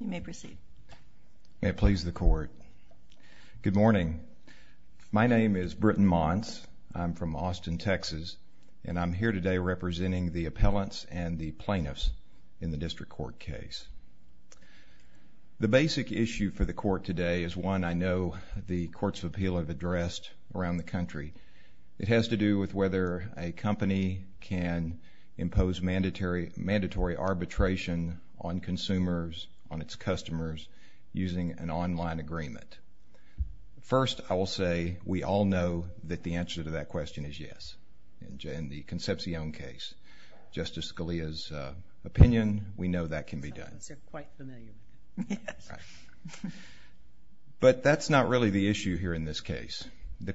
You may proceed. May it please the court. Good morning. My name is Britton Montz. I'm from Austin, Texas, and I'm here today representing the appellants and the plaintiffs in the district court case. The basic issue for the court today is one I know the Courts of Appeal have addressed around the country. It has to do with whether a company can impose mandatory arbitration on consumers, on its customers, using an online agreement. First, I will say we all know that the answer to that question is yes. In the Concepcion case, Justice Scalia's opinion, we know that can be done. But that's not really the issue here in this case. The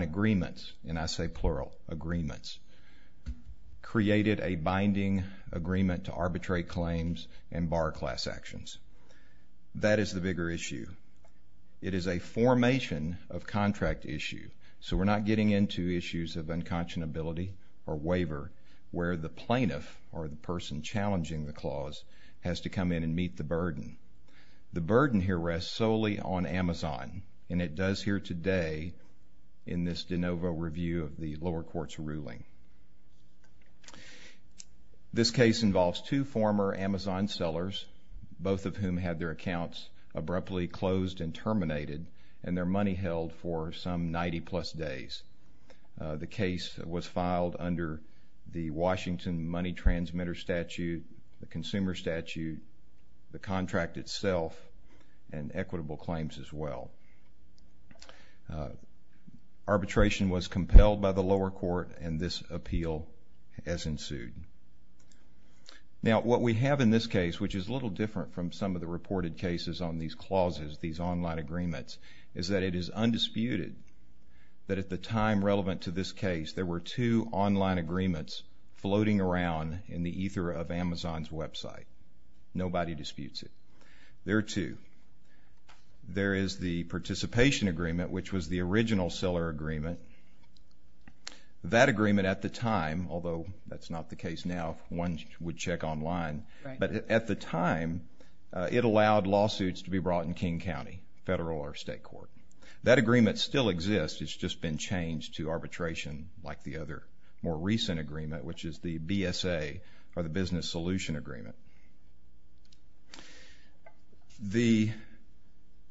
agreements, and I say plural agreements, created a binding agreement to arbitrate claims and bar class actions. That is the bigger issue. It is a formation of contract issue, so we're not getting into issues of unconscionability or waiver where the plaintiff or the person challenging the clause has to come in and meet the burden. The burden here rests solely on Amazon, and it does here today in this de novo review of the lower court's ruling. This case involves two former Amazon sellers, both of whom had their accounts abruptly closed and terminated, and their money held for some 90-plus days. The case was filed under the Washington Money Transmitter Statute, the Consumer Statute, the contract itself, and equitable claims as well. Arbitration was compelled by the lower court, and this appeal has ensued. Now, what we have in this case, which is a little different from some of the reported cases on these clauses, these online agreements, is that it is undisputed that at the time relevant to this case, there were two online agreements floating around in the There is the participation agreement, which was the original seller agreement. That agreement at the time, although that's not the case now, one would check online, but at the time it allowed lawsuits to be brought in King County, federal or state court. That agreement still exists, it's just been changed to arbitration like the other more recent agreement, which is the BSA, or the Business Solution Agreement. The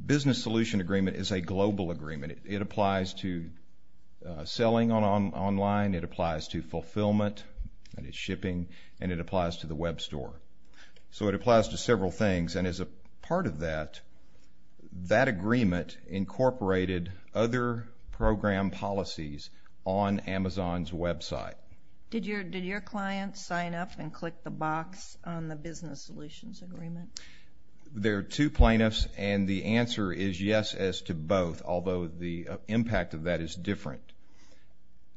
Business Solution Agreement is a global agreement. It applies to selling online, it applies to fulfillment, that is shipping, and it applies to the web store. So it applies to several things, and as a part of that, that agreement incorporated other program policies on Amazon's website. Did your client sign up and click the box on the Business Solutions Agreement? There are two plaintiffs, and the answer is yes as to both, although the impact of that is different.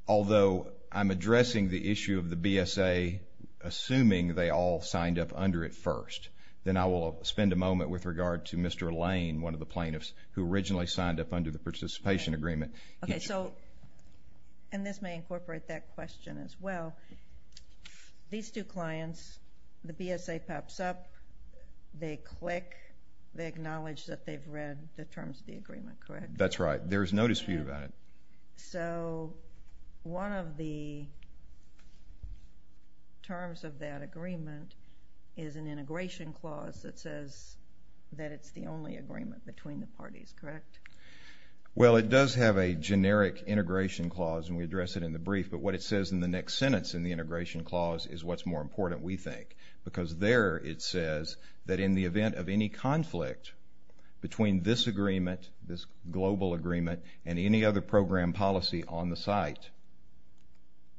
Although I'm addressing the issue of the BSA, assuming they all signed up under it first, then I will spend a moment with regard to Mr. Lane, one of the plaintiffs who originally signed up under the Participation Agreement. Okay, so, and this may incorporate that question as well, these two clients, the BSA pops up, they click, they acknowledge that they've read the terms of the agreement, correct? That's right, there's no dispute about it. So one of the terms of that agreement is an integration clause that says that it's the only agreement between the parties, correct? Well, it does have a generic integration clause, and we address it in the brief, but what it says in the next sentence in the integration clause is what's more important, we think, because there it says that in the event of any conflict between this agreement, this global agreement, and any other program policy on the site,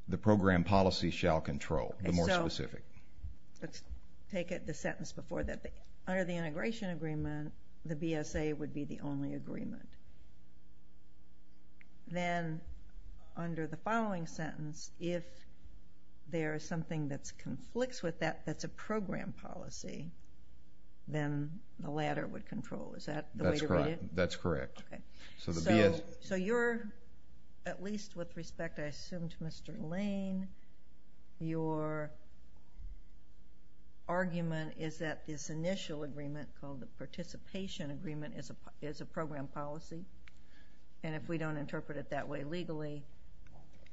the program policy shall control the more specific. And so, let's take the sentence before that. Under the integration agreement, the BSA would be the only agreement. Then, under the following sentence, if there's something that conflicts with that, that's a program policy, then the latter would control. Is that the way to read it? That's correct. Okay. So the BSA— So you're, at least with respect, I assume, to Mr. Lane, your argument is that this initial agreement called the participation agreement is a program policy, and if we don't interpret it that way legally,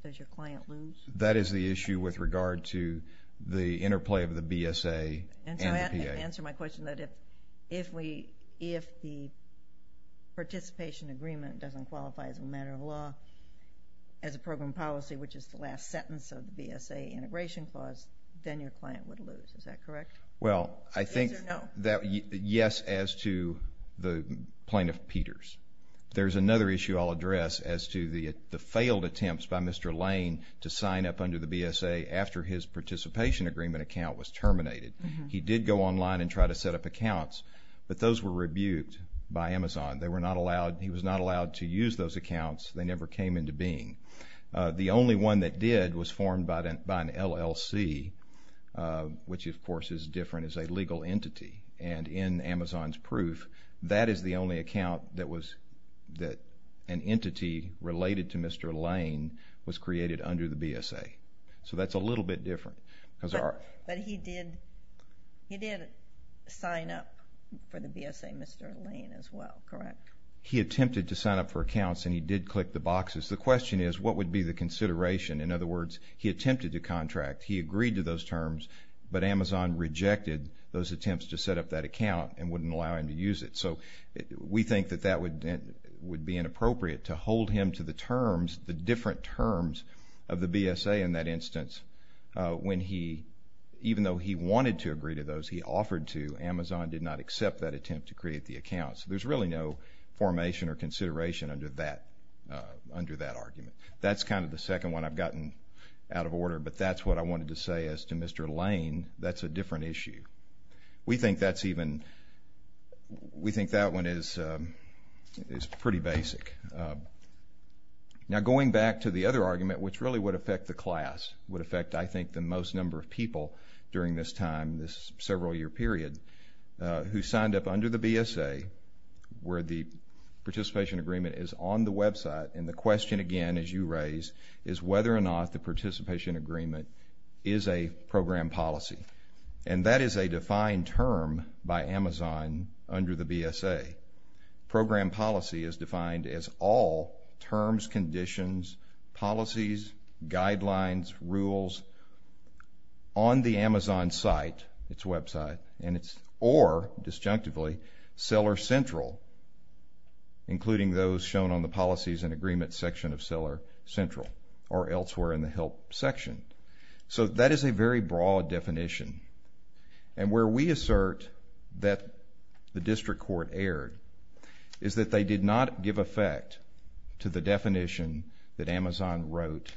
does your client lose? That is the issue with regard to the interplay of the BSA and the PA. Answer my question, that if the participation agreement doesn't qualify as a matter of law, as a program policy, which is the last sentence of the BSA integration clause, then your client would lose. Is that correct? Well, I think— Yes, as to the plaintiff, Peters. There's another issue I'll address as to the failed attempts by Mr. Lane to sign up under the BSA after his participation agreement account was terminated. He did go online and try to set up accounts, but those were rebuked by Amazon. They were not allowed—he was not allowed to use those accounts. They never came into being. The only one that did was formed by an LLC, which, of course, is different as a legal entity. And in Amazon's proof, that is the only account that was—that an entity related to Mr. Lane was created under the BSA. So that's a little bit different. But he did sign up for the BSA, Mr. Lane, as well, correct? He attempted to sign up for accounts, and he did click the boxes. The question is, what would be the consideration? In other words, he attempted to contract. He agreed to those terms, but Amazon rejected those attempts to set up that account and wouldn't allow him to use it. So we think that that would be inappropriate to hold him to the terms, the different terms of the BSA in that instance, when he—even though he wanted to agree to those he offered to, Amazon did not accept that attempt to create the account. So there's really no formation or consideration under that argument. That's kind of the second one I've gotten out of order, but that's what I wanted to say as to Mr. Lane. That's a different issue. We think that's even—we think that one is pretty basic. Now, going back to the other argument, which really would affect the class, would affect, I think, the most number of people during this time, this several-year period, who signed up under the BSA, where the participation agreement is on the website. And the question, again, as you raise, is whether or not the participation agreement is a program policy. And that is a defined term by Amazon under the BSA. Program policy is defined as all terms, conditions, policies, guidelines, rules on the Amazon site, its website, and its—or, disjunctively, seller central, including those shown on the policies and agreements section of seller central or elsewhere in the help section. So that is a very broad definition. And where we assert that the district court erred is that they did not give effect to the definition that Amazon wrote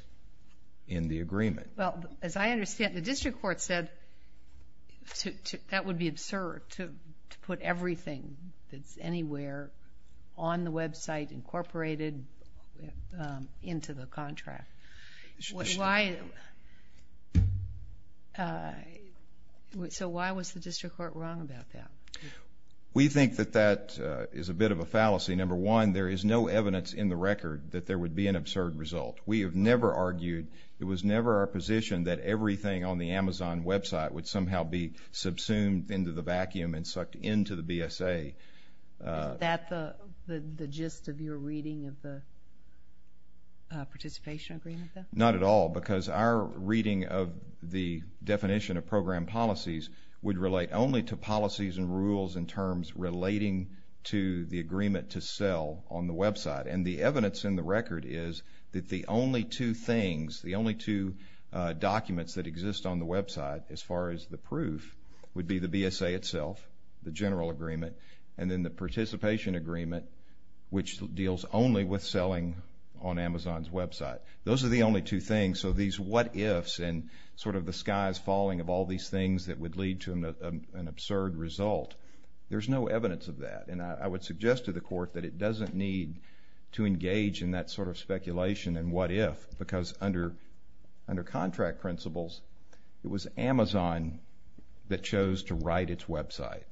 in the agreement. Well, as I understand, the district court said that would be absurd to put everything that's anywhere on the website incorporated into the contract. So why was the district court wrong about that? We think that that is a bit of a fallacy. Number one, there is no evidence in the record that there would be an absurd result. We have never argued. It was never our position that everything on the Amazon website would somehow be subsumed into the vacuum and sucked into the BSA. Is that the gist of your reading of the participation agreement, then? Not at all, because our reading of the definition of program policies would relate only to policies and rules and terms relating to the agreement to sell on the website. And the evidence in the record is that the only two things, the only two documents that exist on the website, as far as the proof, would be the BSA itself, the general agreement, and then the participation agreement, which deals only with selling on Amazon's website. Those are the only two things. So these what-ifs and sort of the sky's falling of all these things that would lead to an absurd result, there's no evidence of that. And I would suggest to the court that it doesn't need to engage in that sort of speculation and what-if, because under contract principles, it was Amazon that chose to write its website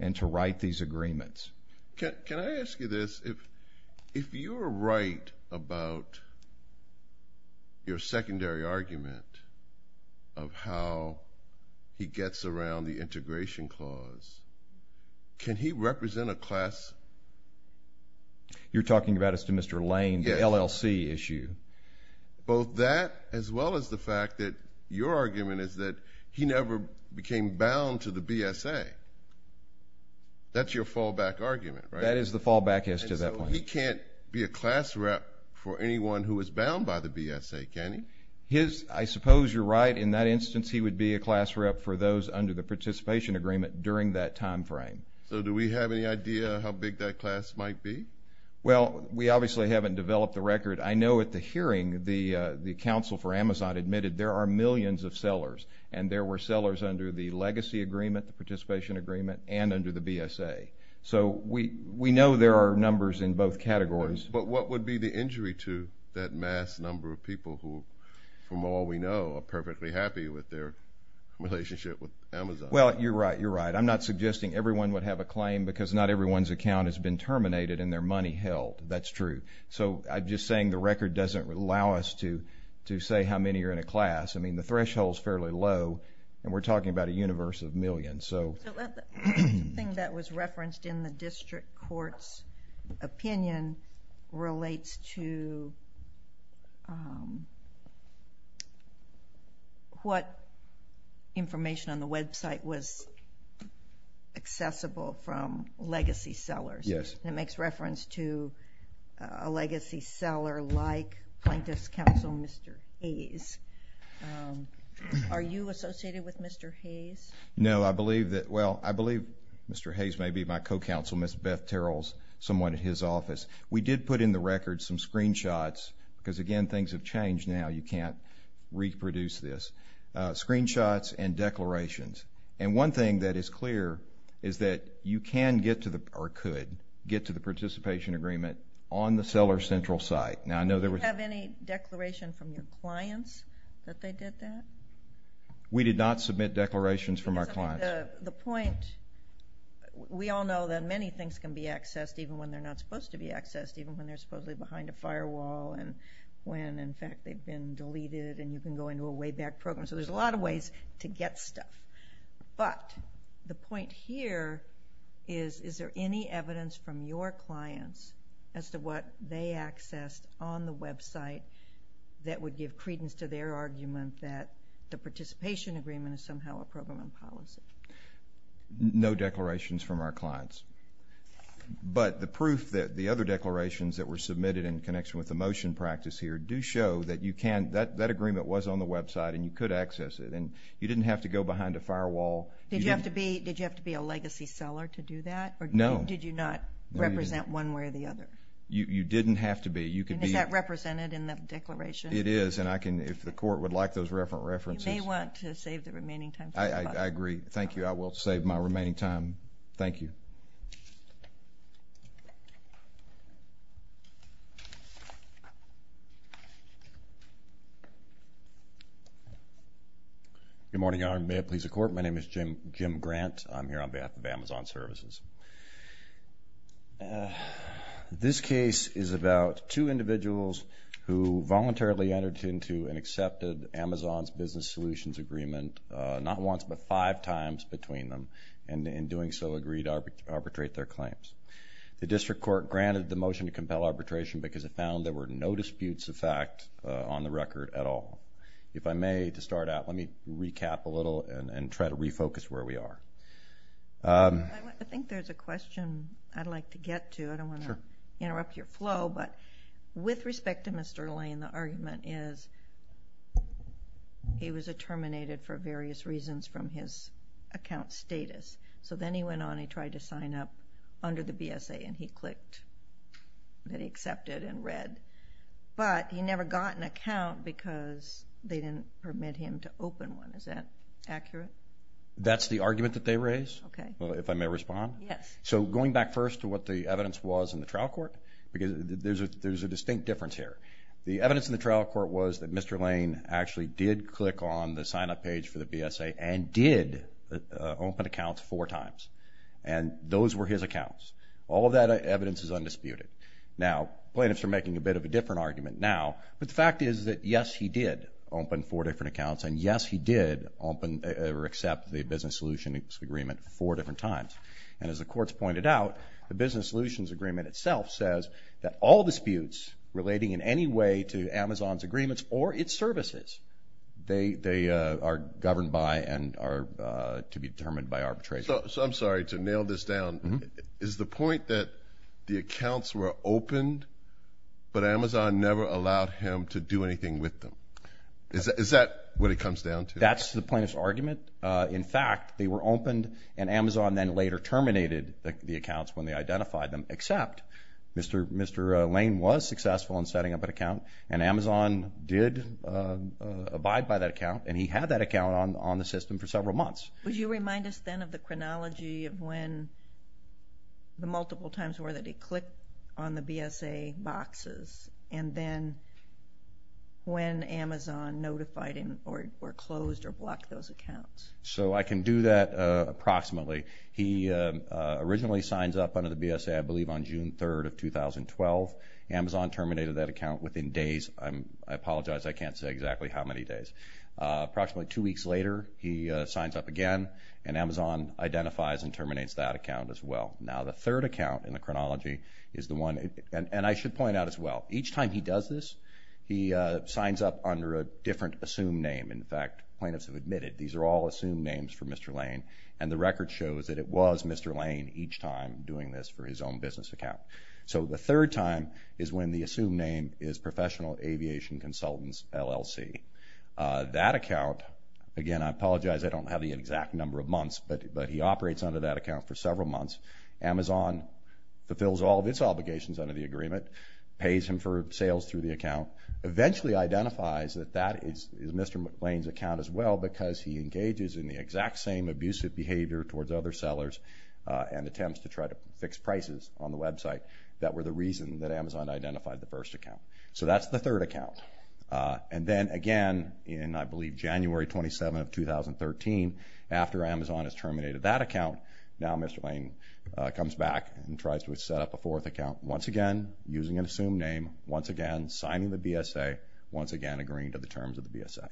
and to write these agreements. Can I ask you this? If you were right about your secondary argument of how he gets around the integration clause, can he represent a class? You're talking about as to Mr. Lane, the LLC issue. Both that as well as the fact that your argument is that he never became bound to the BSA. That's your fallback argument, right? That is the fallback as to that point. And so he can't be a class rep for anyone who is bound by the BSA, can he? I suppose you're right. In that instance, he would be a class rep for those under the participation agreement during that time frame. So do we have any idea how big that class might be? Well, we obviously haven't developed the record. I know at the hearing, the counsel for Amazon admitted there are millions of sellers, and there were sellers under the legacy agreement, the participation agreement, and under the BSA. So we know there are numbers in both categories. But what would be the injury to that mass number of people who, from all we know, are perfectly happy with their relationship with Amazon? Well, you're right. I'm not suggesting everyone would have a claim because not everyone's account has been terminated and their money held. That's true. So I'm just saying the record doesn't allow us to say how many are in a class. I mean, the threshold's fairly low, and we're talking about a universe of millions. The thing that was referenced in the district court's opinion relates to what information on the website was accessible from legacy sellers. Yes. It makes reference to a legacy seller like Plaintiff's Counsel Mr. Hayes. Are you associated with Mr. Hayes? No. I believe Mr. Hayes may be my co-counsel. Ms. Beth Terrell's somewhat at his office. We did put in the record some screenshots because, again, things have changed now. You can't reproduce this. Screenshots and declarations. And one thing that is clear is that you can get to, or could get to, the participation agreement on the Seller Central site. Do you have any declaration from your clients that they did that? We did not submit declarations from our clients. The point... We all know that many things can be accessed even when they're not supposed to be accessed, even when they're supposedly behind a firewall and when, in fact, they've been deleted and you can go into a way-back program. So there's a lot of ways to get stuff. But the point here is, is there any evidence from your clients as to what they accessed on the website that would give credence to their argument that the participation agreement is somehow a program policy? No declarations from our clients. But the proof that the other declarations that were submitted in connection with the motion practice here do show that that agreement was on the website and you could access it. And you didn't have to go behind a firewall. Did you have to be a legacy seller to do that? No. Or did you not represent one way or the other? You didn't have to be. And is that represented in the declaration? It is. And if the court would like those references... You may want to save the remaining time. I agree. Thank you. I will save my remaining time. Thank you. Good morning, Your Honor. May it please the Court. My name is Jim Grant. I'm here on behalf of Amazon Services. This case is about two individuals who voluntarily entered into and accepted Amazon's business solutions agreement not once but five times between them and in doing so agreed to arbitrate their claims. The District Court granted the motion to compel arbitration because it found there were no disputes of fact on the record at all. If I may, to start out, let me recap a little and try to refocus where we are. I think there's a question I'd like to get to. I don't want to interrupt your flow. But with respect to Mr. Lane, the argument is he was terminated for various reasons from his account status. So then he went on and he tried to sign up under the BSA and he clicked that he accepted and read. But he never got an account because they didn't permit him to open one. Is that accurate? That's the argument that they raised, if I may respond. Yes. So going back first to what the evidence was in the trial court, because there's a distinct difference here. The evidence in the trial court was that Mr. Lane actually did click on the sign-up page for the BSA and did open accounts four times. And those were his accounts. All of that evidence is undisputed. Now, plaintiffs are making a bit of a different argument now. But the fact is that yes, he did open four different accounts and yes, he did open or accept the business solutions agreement four different times. And as the courts pointed out, the business solutions agreement itself says that all disputes relating in any way to Amazon's agreements or its services, they are governed by and are to be determined by arbitration. So I'm sorry to nail this down. Is the point that the accounts were opened but Amazon never allowed him to do anything with them? Is that what it comes down to? That's the plaintiff's argument. In fact, they were opened and Amazon then later terminated the accounts when they identified them except Mr. Lane was successful in setting up an account and Amazon did abide by that account and he had that account on the system for several months. Would you remind us then of the chronology of when the multiple times were that he clicked on the BSA boxes and then when Amazon notified him or closed or blocked those accounts? So I can do that approximately. He originally signs up under the BSA I believe on June 3rd of 2012. Amazon terminated that account within days. I apologize, I can't say exactly Approximately two weeks later he signs up again and Amazon identifies and terminates that account as well. Now the third account in the chronology and I should point out as well each time he does this he signs up under a different assumed name. In fact, plaintiffs have admitted these are all assumed names for Mr. Lane and the record shows that it was Mr. Lane each time doing this for his own business account. So the third time is when the assumed name is Professional Aviation Consultants LLC. That account again I apologize I don't have the exact number of months but he operates under that account for several months. Amazon fulfills all of its obligations under the agreement. Pays him for sales through the account. Eventually identifies that that is Mr. Lane's account as well because he engages in the exact same abusive behavior towards other sellers and attempts to try to fix prices on the website that were the reason that Amazon identified the first account. So that's the third account. And then again in I believe January 27 of 2013 after Amazon has terminated that account now Mr. Lane comes back and tries to set up a fourth account once again using an assumed name once again signing the BSA once again agreeing to the terms of the BSA.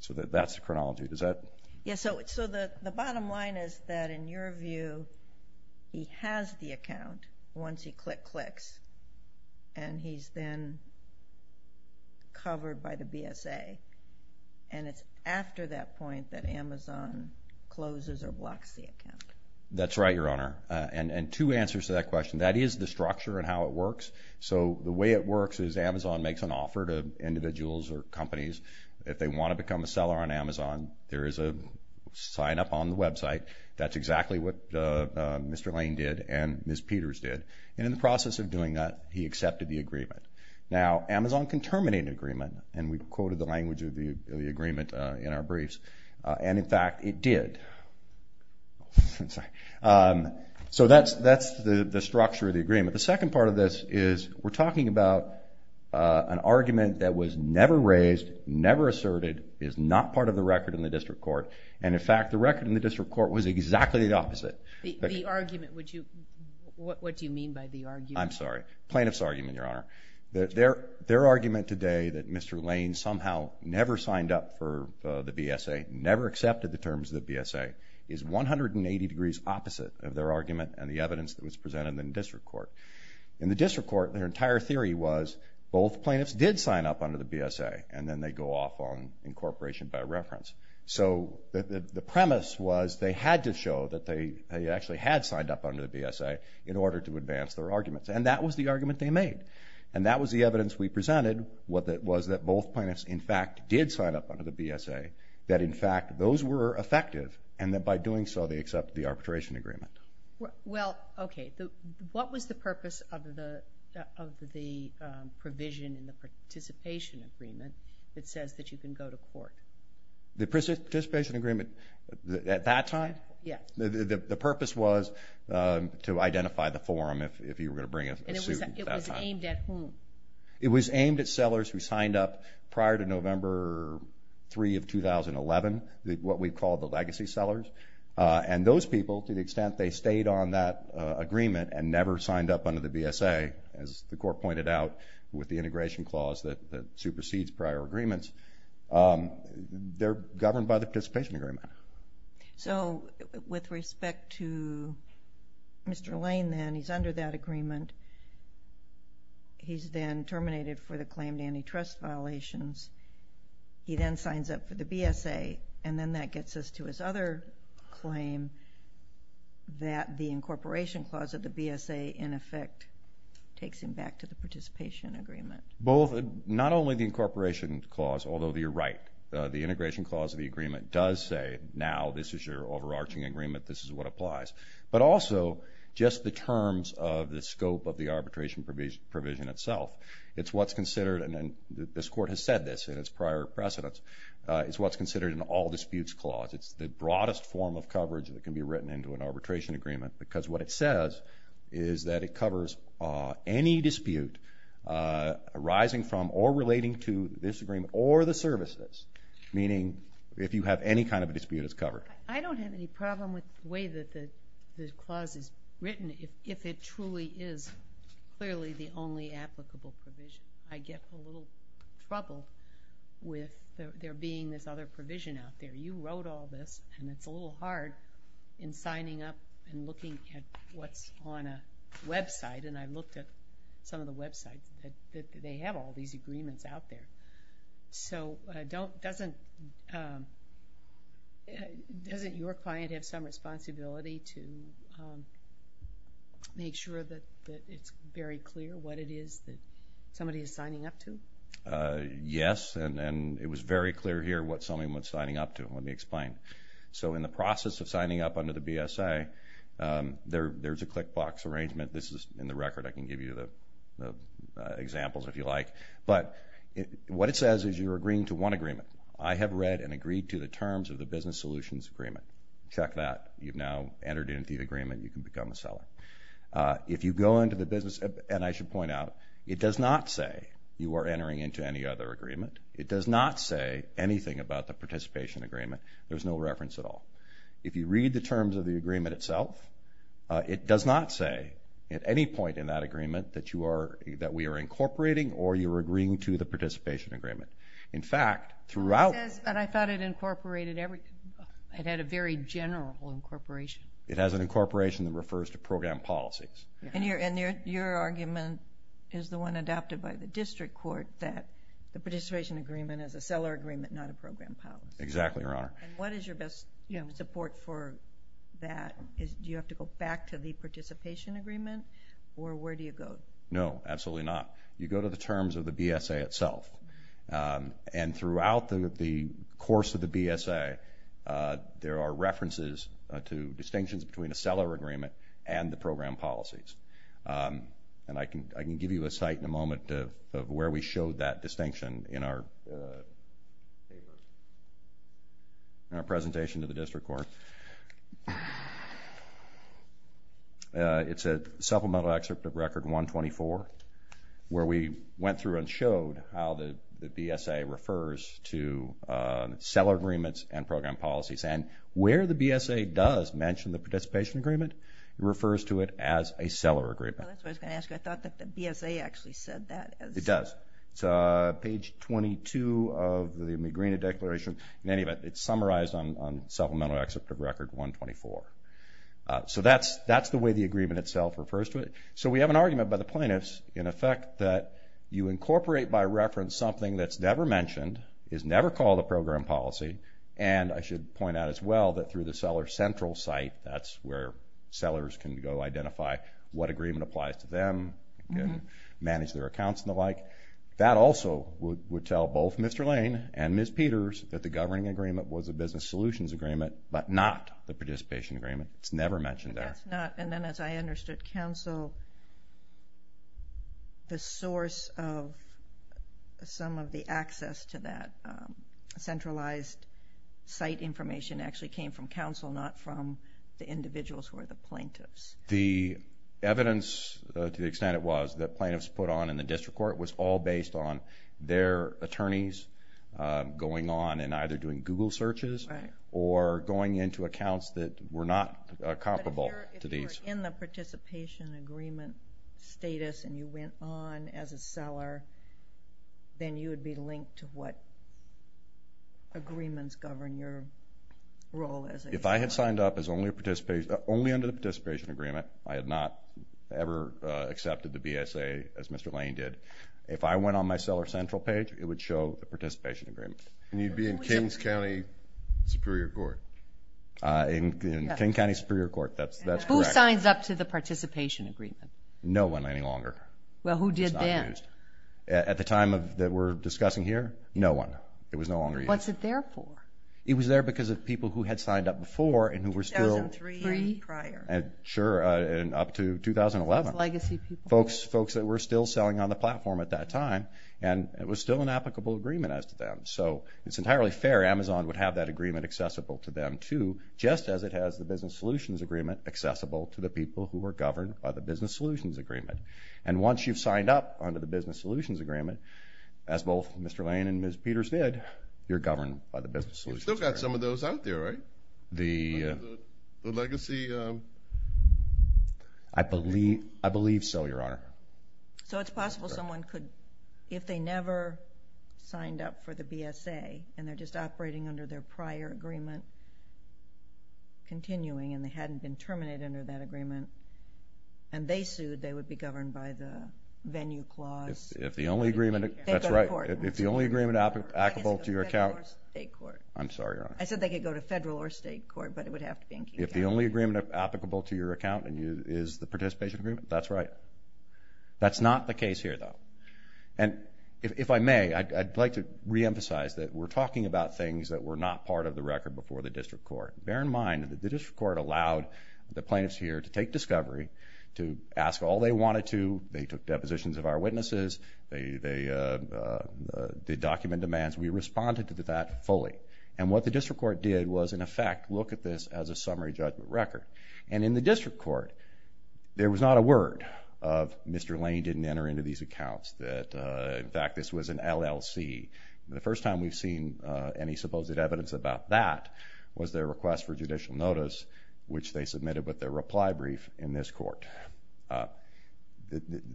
So that's the chronology. So the bottom line is that in your view he has the account once he click clicks and he's then covered by the BSA and it's after that point that Amazon closes or blocks the account. That's right your honor. And two answers to that question. That is the structure and how it works. So the way it works is Amazon makes an offer to individuals or companies if they want to become a seller on Amazon there is a sign up on the website that's exactly what Mr. Lane did and Ms. Peters did. And in the process of doing that he accepted the agreement. Now Amazon can terminate an agreement and we quoted the language of the agreement in our briefs and in fact it did. So that's the structure of the agreement. The second part of this is we're talking about an argument that was never raised never asserted is not part of the record in the district court and in fact the record in the district court was exactly the opposite. The argument would you what do you mean by the argument? I'm sorry. Plaintiff's argument your honor. Their argument today that Mr. Lane somehow never signed up for the BSA never accepted the terms of the BSA is 180 degrees opposite of their argument and the evidence that was presented in the district court. In the district court their entire theory was both plaintiffs did sign up under the BSA and then they go off on incorporation by reference. So the premise was they had to show that they actually had signed up under the BSA in order to advance their arguments and that was the argument they made. And that was the evidence we presented was that both plaintiffs in fact did sign up under the BSA that in fact those were effective and that by doing so they accepted the arbitration agreement. Well okay what was the purpose of the provision in the participation agreement that says that you can go to court? The participation agreement at that time? The purpose was to identify the forum if you were going to bring a suit. It was aimed at whom? It was aimed at sellers who signed up prior to November 3 of 2011 what we call the legacy sellers and those people to the extent they stayed on that agreement and never signed up under the BSA as the court pointed out with the integration clause that supersedes prior agreements they're governed by the participation agreement. So with respect to Mr. Lane then, he's under that agreement he's then terminated for the claimed antitrust violations he then signs up for the BSA and then that gets us to his other claim that the incorporation clause of the BSA in effect takes him back to the participation agreement. Both, not only the incorporation clause, although you're right the integration clause of the agreement does say now this is your overarching agreement, this is what applies. But also just the terms of the scope of the arbitration provision itself, it's what's considered and this court has said this in its prior precedence, it's what's considered an all disputes clause. It's the broadest form of coverage that can be written into an arbitration agreement because what it says is that it covers any dispute arising from or relating to this agreement or the services meaning if you have any kind of dispute it's covered. I don't have any problem with the way that the clause is written if it truly is clearly the only applicable provision. I get a little trouble with there being this other provision out there. You wrote all this and it's a little hard in signing up and looking at what's on a website and I looked at some of the websites that they have all these agreements out there. So doesn't your client have some responsibility to make sure that it's very clear what it is that somebody is signing up to? Yes and it was very clear here what someone was signing up to. Let me explain. So in the process of signing up under the BSA there's a click box arrangement. This is in the record I can give you the examples if you like. But what it says is you're agreeing to one agreement. I have read and agreed to the terms of the business solutions agreement. Check that. You've now entered into the agreement. You can become a seller. If you go into the business and I should point out it does not say you are entering into any other agreement. It does not say anything about the participation agreement. There's no reference at all. If you read the terms of the agreement itself it does not say at any point in that agreement that we are incorporating or you're agreeing to the participation agreement. In fact, throughout... I thought it incorporated everything. It had a very general incorporation. It has an incorporation that refers to program policies. Your argument is the one adopted by the district court that the participation agreement is a seller agreement not a program policy. Exactly, Your Honor. What is your best support for that? Do you have to go back to the participation agreement or where do you go? No, absolutely not. You go to the terms of the BSA itself. Throughout the course of the BSA there are references to distinctions between a seller agreement and the program policies. I can give you a sight in a moment of where we showed that distinction in our presentation to the district court. It's at Supplemental Excerpt of Record 124 where we went through and showed how the BSA refers to seller agreements and program policies. Where the BSA does mention the participation agreement, it refers to it as a seller agreement. I thought that the BSA actually said that. It does. It's page 22 of the Magrina Declaration. In any event, it's summarized on Supplemental Excerpt of Record 124. That's the way the agreement itself refers to it. We have an argument by the plaintiffs in effect that you incorporate by reference something that's never mentioned is never called a program policy and I should point out as well that through the seller central site that's where sellers can go identify what agreement applies to them and manage their accounts and the like. That also would tell both Mr. Lane and Ms. Peters that the governing agreement was a participation agreement. It's never mentioned there. But that's not, and then as I understood, council the source of some of the access to that centralized site information actually came from council, not from the individuals who are the plaintiffs. The evidence, to the extent it was, that plaintiffs put on in the district court was all based on their attorneys going on and either doing Google searches or going into accounts that were not comparable to these. But if you were in the participation agreement status and you went on as a seller then you would be linked to what agreements govern your role as a seller. If I had signed up as only a participation, only under the participation agreement I had not ever accepted the BSA as Mr. Lane did. If I went on my seller central page it would show the participation agreement. And you'd be in Kings County Superior Court. In King County Superior Court, that's correct. Who signs up to the participation agreement? No one any longer. Well who did then? At the time that we're discussing here no one. It was no longer used. What's it there for? It was there because of people who had signed up before and who were still up to 2011. Folks that were still selling on the platform at that time and it was still an applicable agreement as to them. It's entirely fair. Amazon would have that agreement accessible to them too, just as it has the business solutions agreement accessible to the people who are governed by the business solutions agreement. And once you've signed up under the business solutions agreement as both Mr. Lane and Ms. Peters did, you're governed by the business solutions agreement. You've still got some of those out there, right? The legacy... I believe so, Your Honor. So it's possible someone could, if they never signed up for the BSA and they're just operating under their prior agreement continuing and they hadn't been terminated under that agreement and they sued, they would be governed by the venue clause. If the only agreement applicable to your account... I'm sorry, Your Honor. I said they could go to federal or state court, but it would have to be in Key County. If the only agreement applicable to your account is the participation agreement, that's right. That's not the case here, though. And if I may, I'd like to reemphasize that we're talking about things that were not part of the record before the district court. Bear in mind that the district court allowed the plaintiffs here to take discovery, to ask all they wanted to, they took depositions of our witnesses, they did document demands. We responded to that fully. And what the district court did was, in effect, look at this as a summary judgment record. And in the district court, there was not a word of, Mr. Lane didn't enter into these accounts, that, in fact, this was an LLC. The first time we've seen any supposed evidence about that was their request for judicial notice, which they submitted with their reply brief in this court.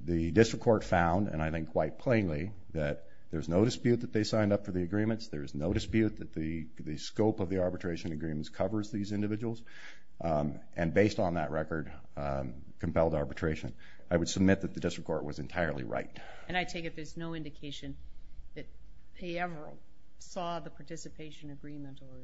The district court found, and I think quite plainly, that there's no dispute that they signed up for the agreements, there's no dispute that the scope of the arbitration agreements covers these individuals. And based on that record, compelled arbitration, I would submit that the district court was entirely right. And I take it there's no indication that they ever saw the participation agreement or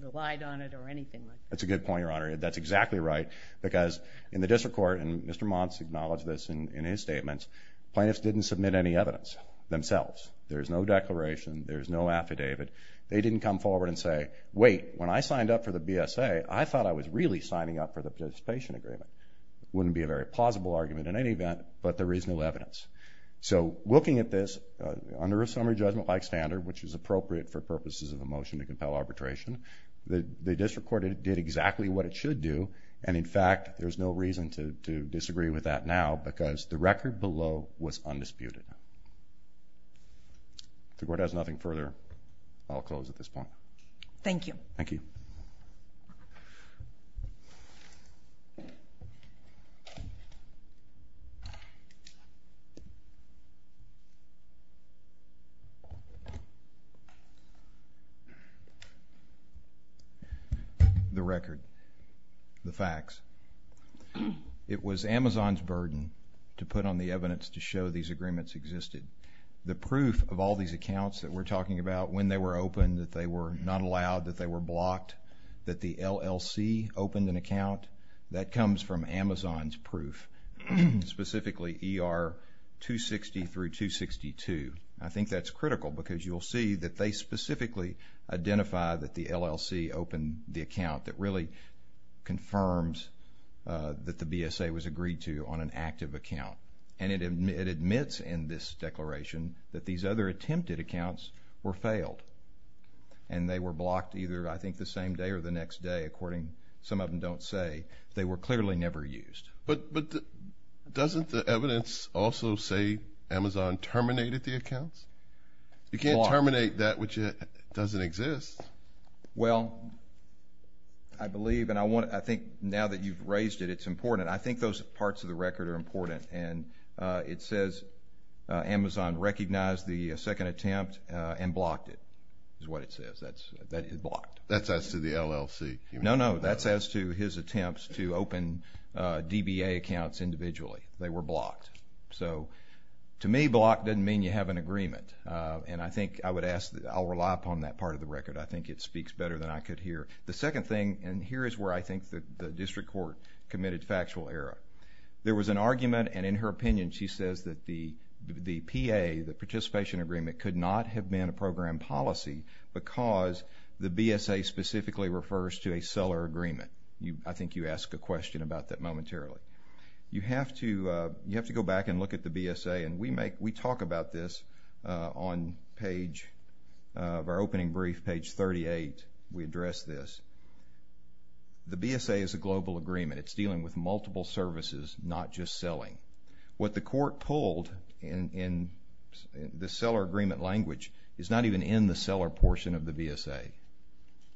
relied on it or anything like that? That's a good point, Your Honor. That's exactly right, because in the district court, and Mr. Mons acknowledged this in his statements, plaintiffs didn't submit any evidence themselves. There's no declaration, there's no affidavit. They didn't come forward and say, wait, when I signed up for the BSA, I thought I was really signing up for the participation agreement. Wouldn't be a very plausible argument in any event, but there is no evidence. So, looking at this, under a summary judgment-like standard, which is appropriate for purposes of a motion to compel arbitration, the district court did exactly what it should do, and in fact, there's no reason to disagree with that now, because the record below was undisputed. If the court has nothing further, I'll close at this point. Thank you. The record. The facts. It was Amazon's burden to put on the evidence to show these agreements existed. The proof of all these accounts that we're talking about, when they were opened, that they were not allowed, that they were blocked, that the LLC opened an account, that comes from Amazon's proof. Specifically, ER 260 through 262. I think that's critical, because you'll see that they specifically identify that the LLC opened the account that really confirms that the BSA was agreed to on an active account, and it admits in this declaration that these other attempted accounts were failed, and they were blocked either, I think, the same day or the next day, according, some of them don't say, they were clearly never used. But doesn't the evidence also say Amazon terminated the accounts? You can't terminate that which doesn't exist. Well, I believe, and I want, I think now that you've raised it, it's important. I think those parts of the record are important, and it says Amazon recognized the second attempt and blocked it, is what it says. That is blocked. That's as to the LLC. No, no, that's as to his attempts to open DBA accounts individually. They were blocked. So, to me, blocked doesn't mean you have an agreement, and I think I would ask, I'll rely upon that part of the record. I think it speaks better than I could hear. The second thing, and here is where I think the district court committed factual error. There was an argument, and in her opinion, she says that the PA, the participation agreement, could not have been a program policy because the BSA specifically refers to a seller agreement. I think you asked a question about that momentarily. You have to go back and look at the BSA, and we talk about this on page of our opening brief, page 38, we address this. The BSA is a multiple services, not just selling. What the court pulled in the seller agreement language is not even in the seller portion of the BSA.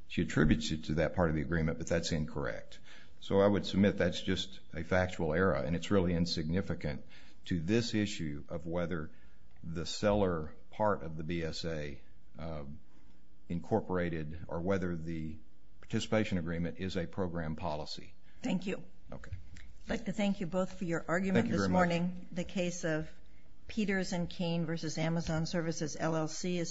She attributes it to that part of the agreement, but that's incorrect. So, I would submit that's just a factual error, and it's really insignificant to this issue of whether the seller part of the BSA incorporated or whether the participation agreement is a program policy. Thank you. I'd like to thank you both for your argument this morning. The case of Peters and Keene v. Amazon Services, LLC is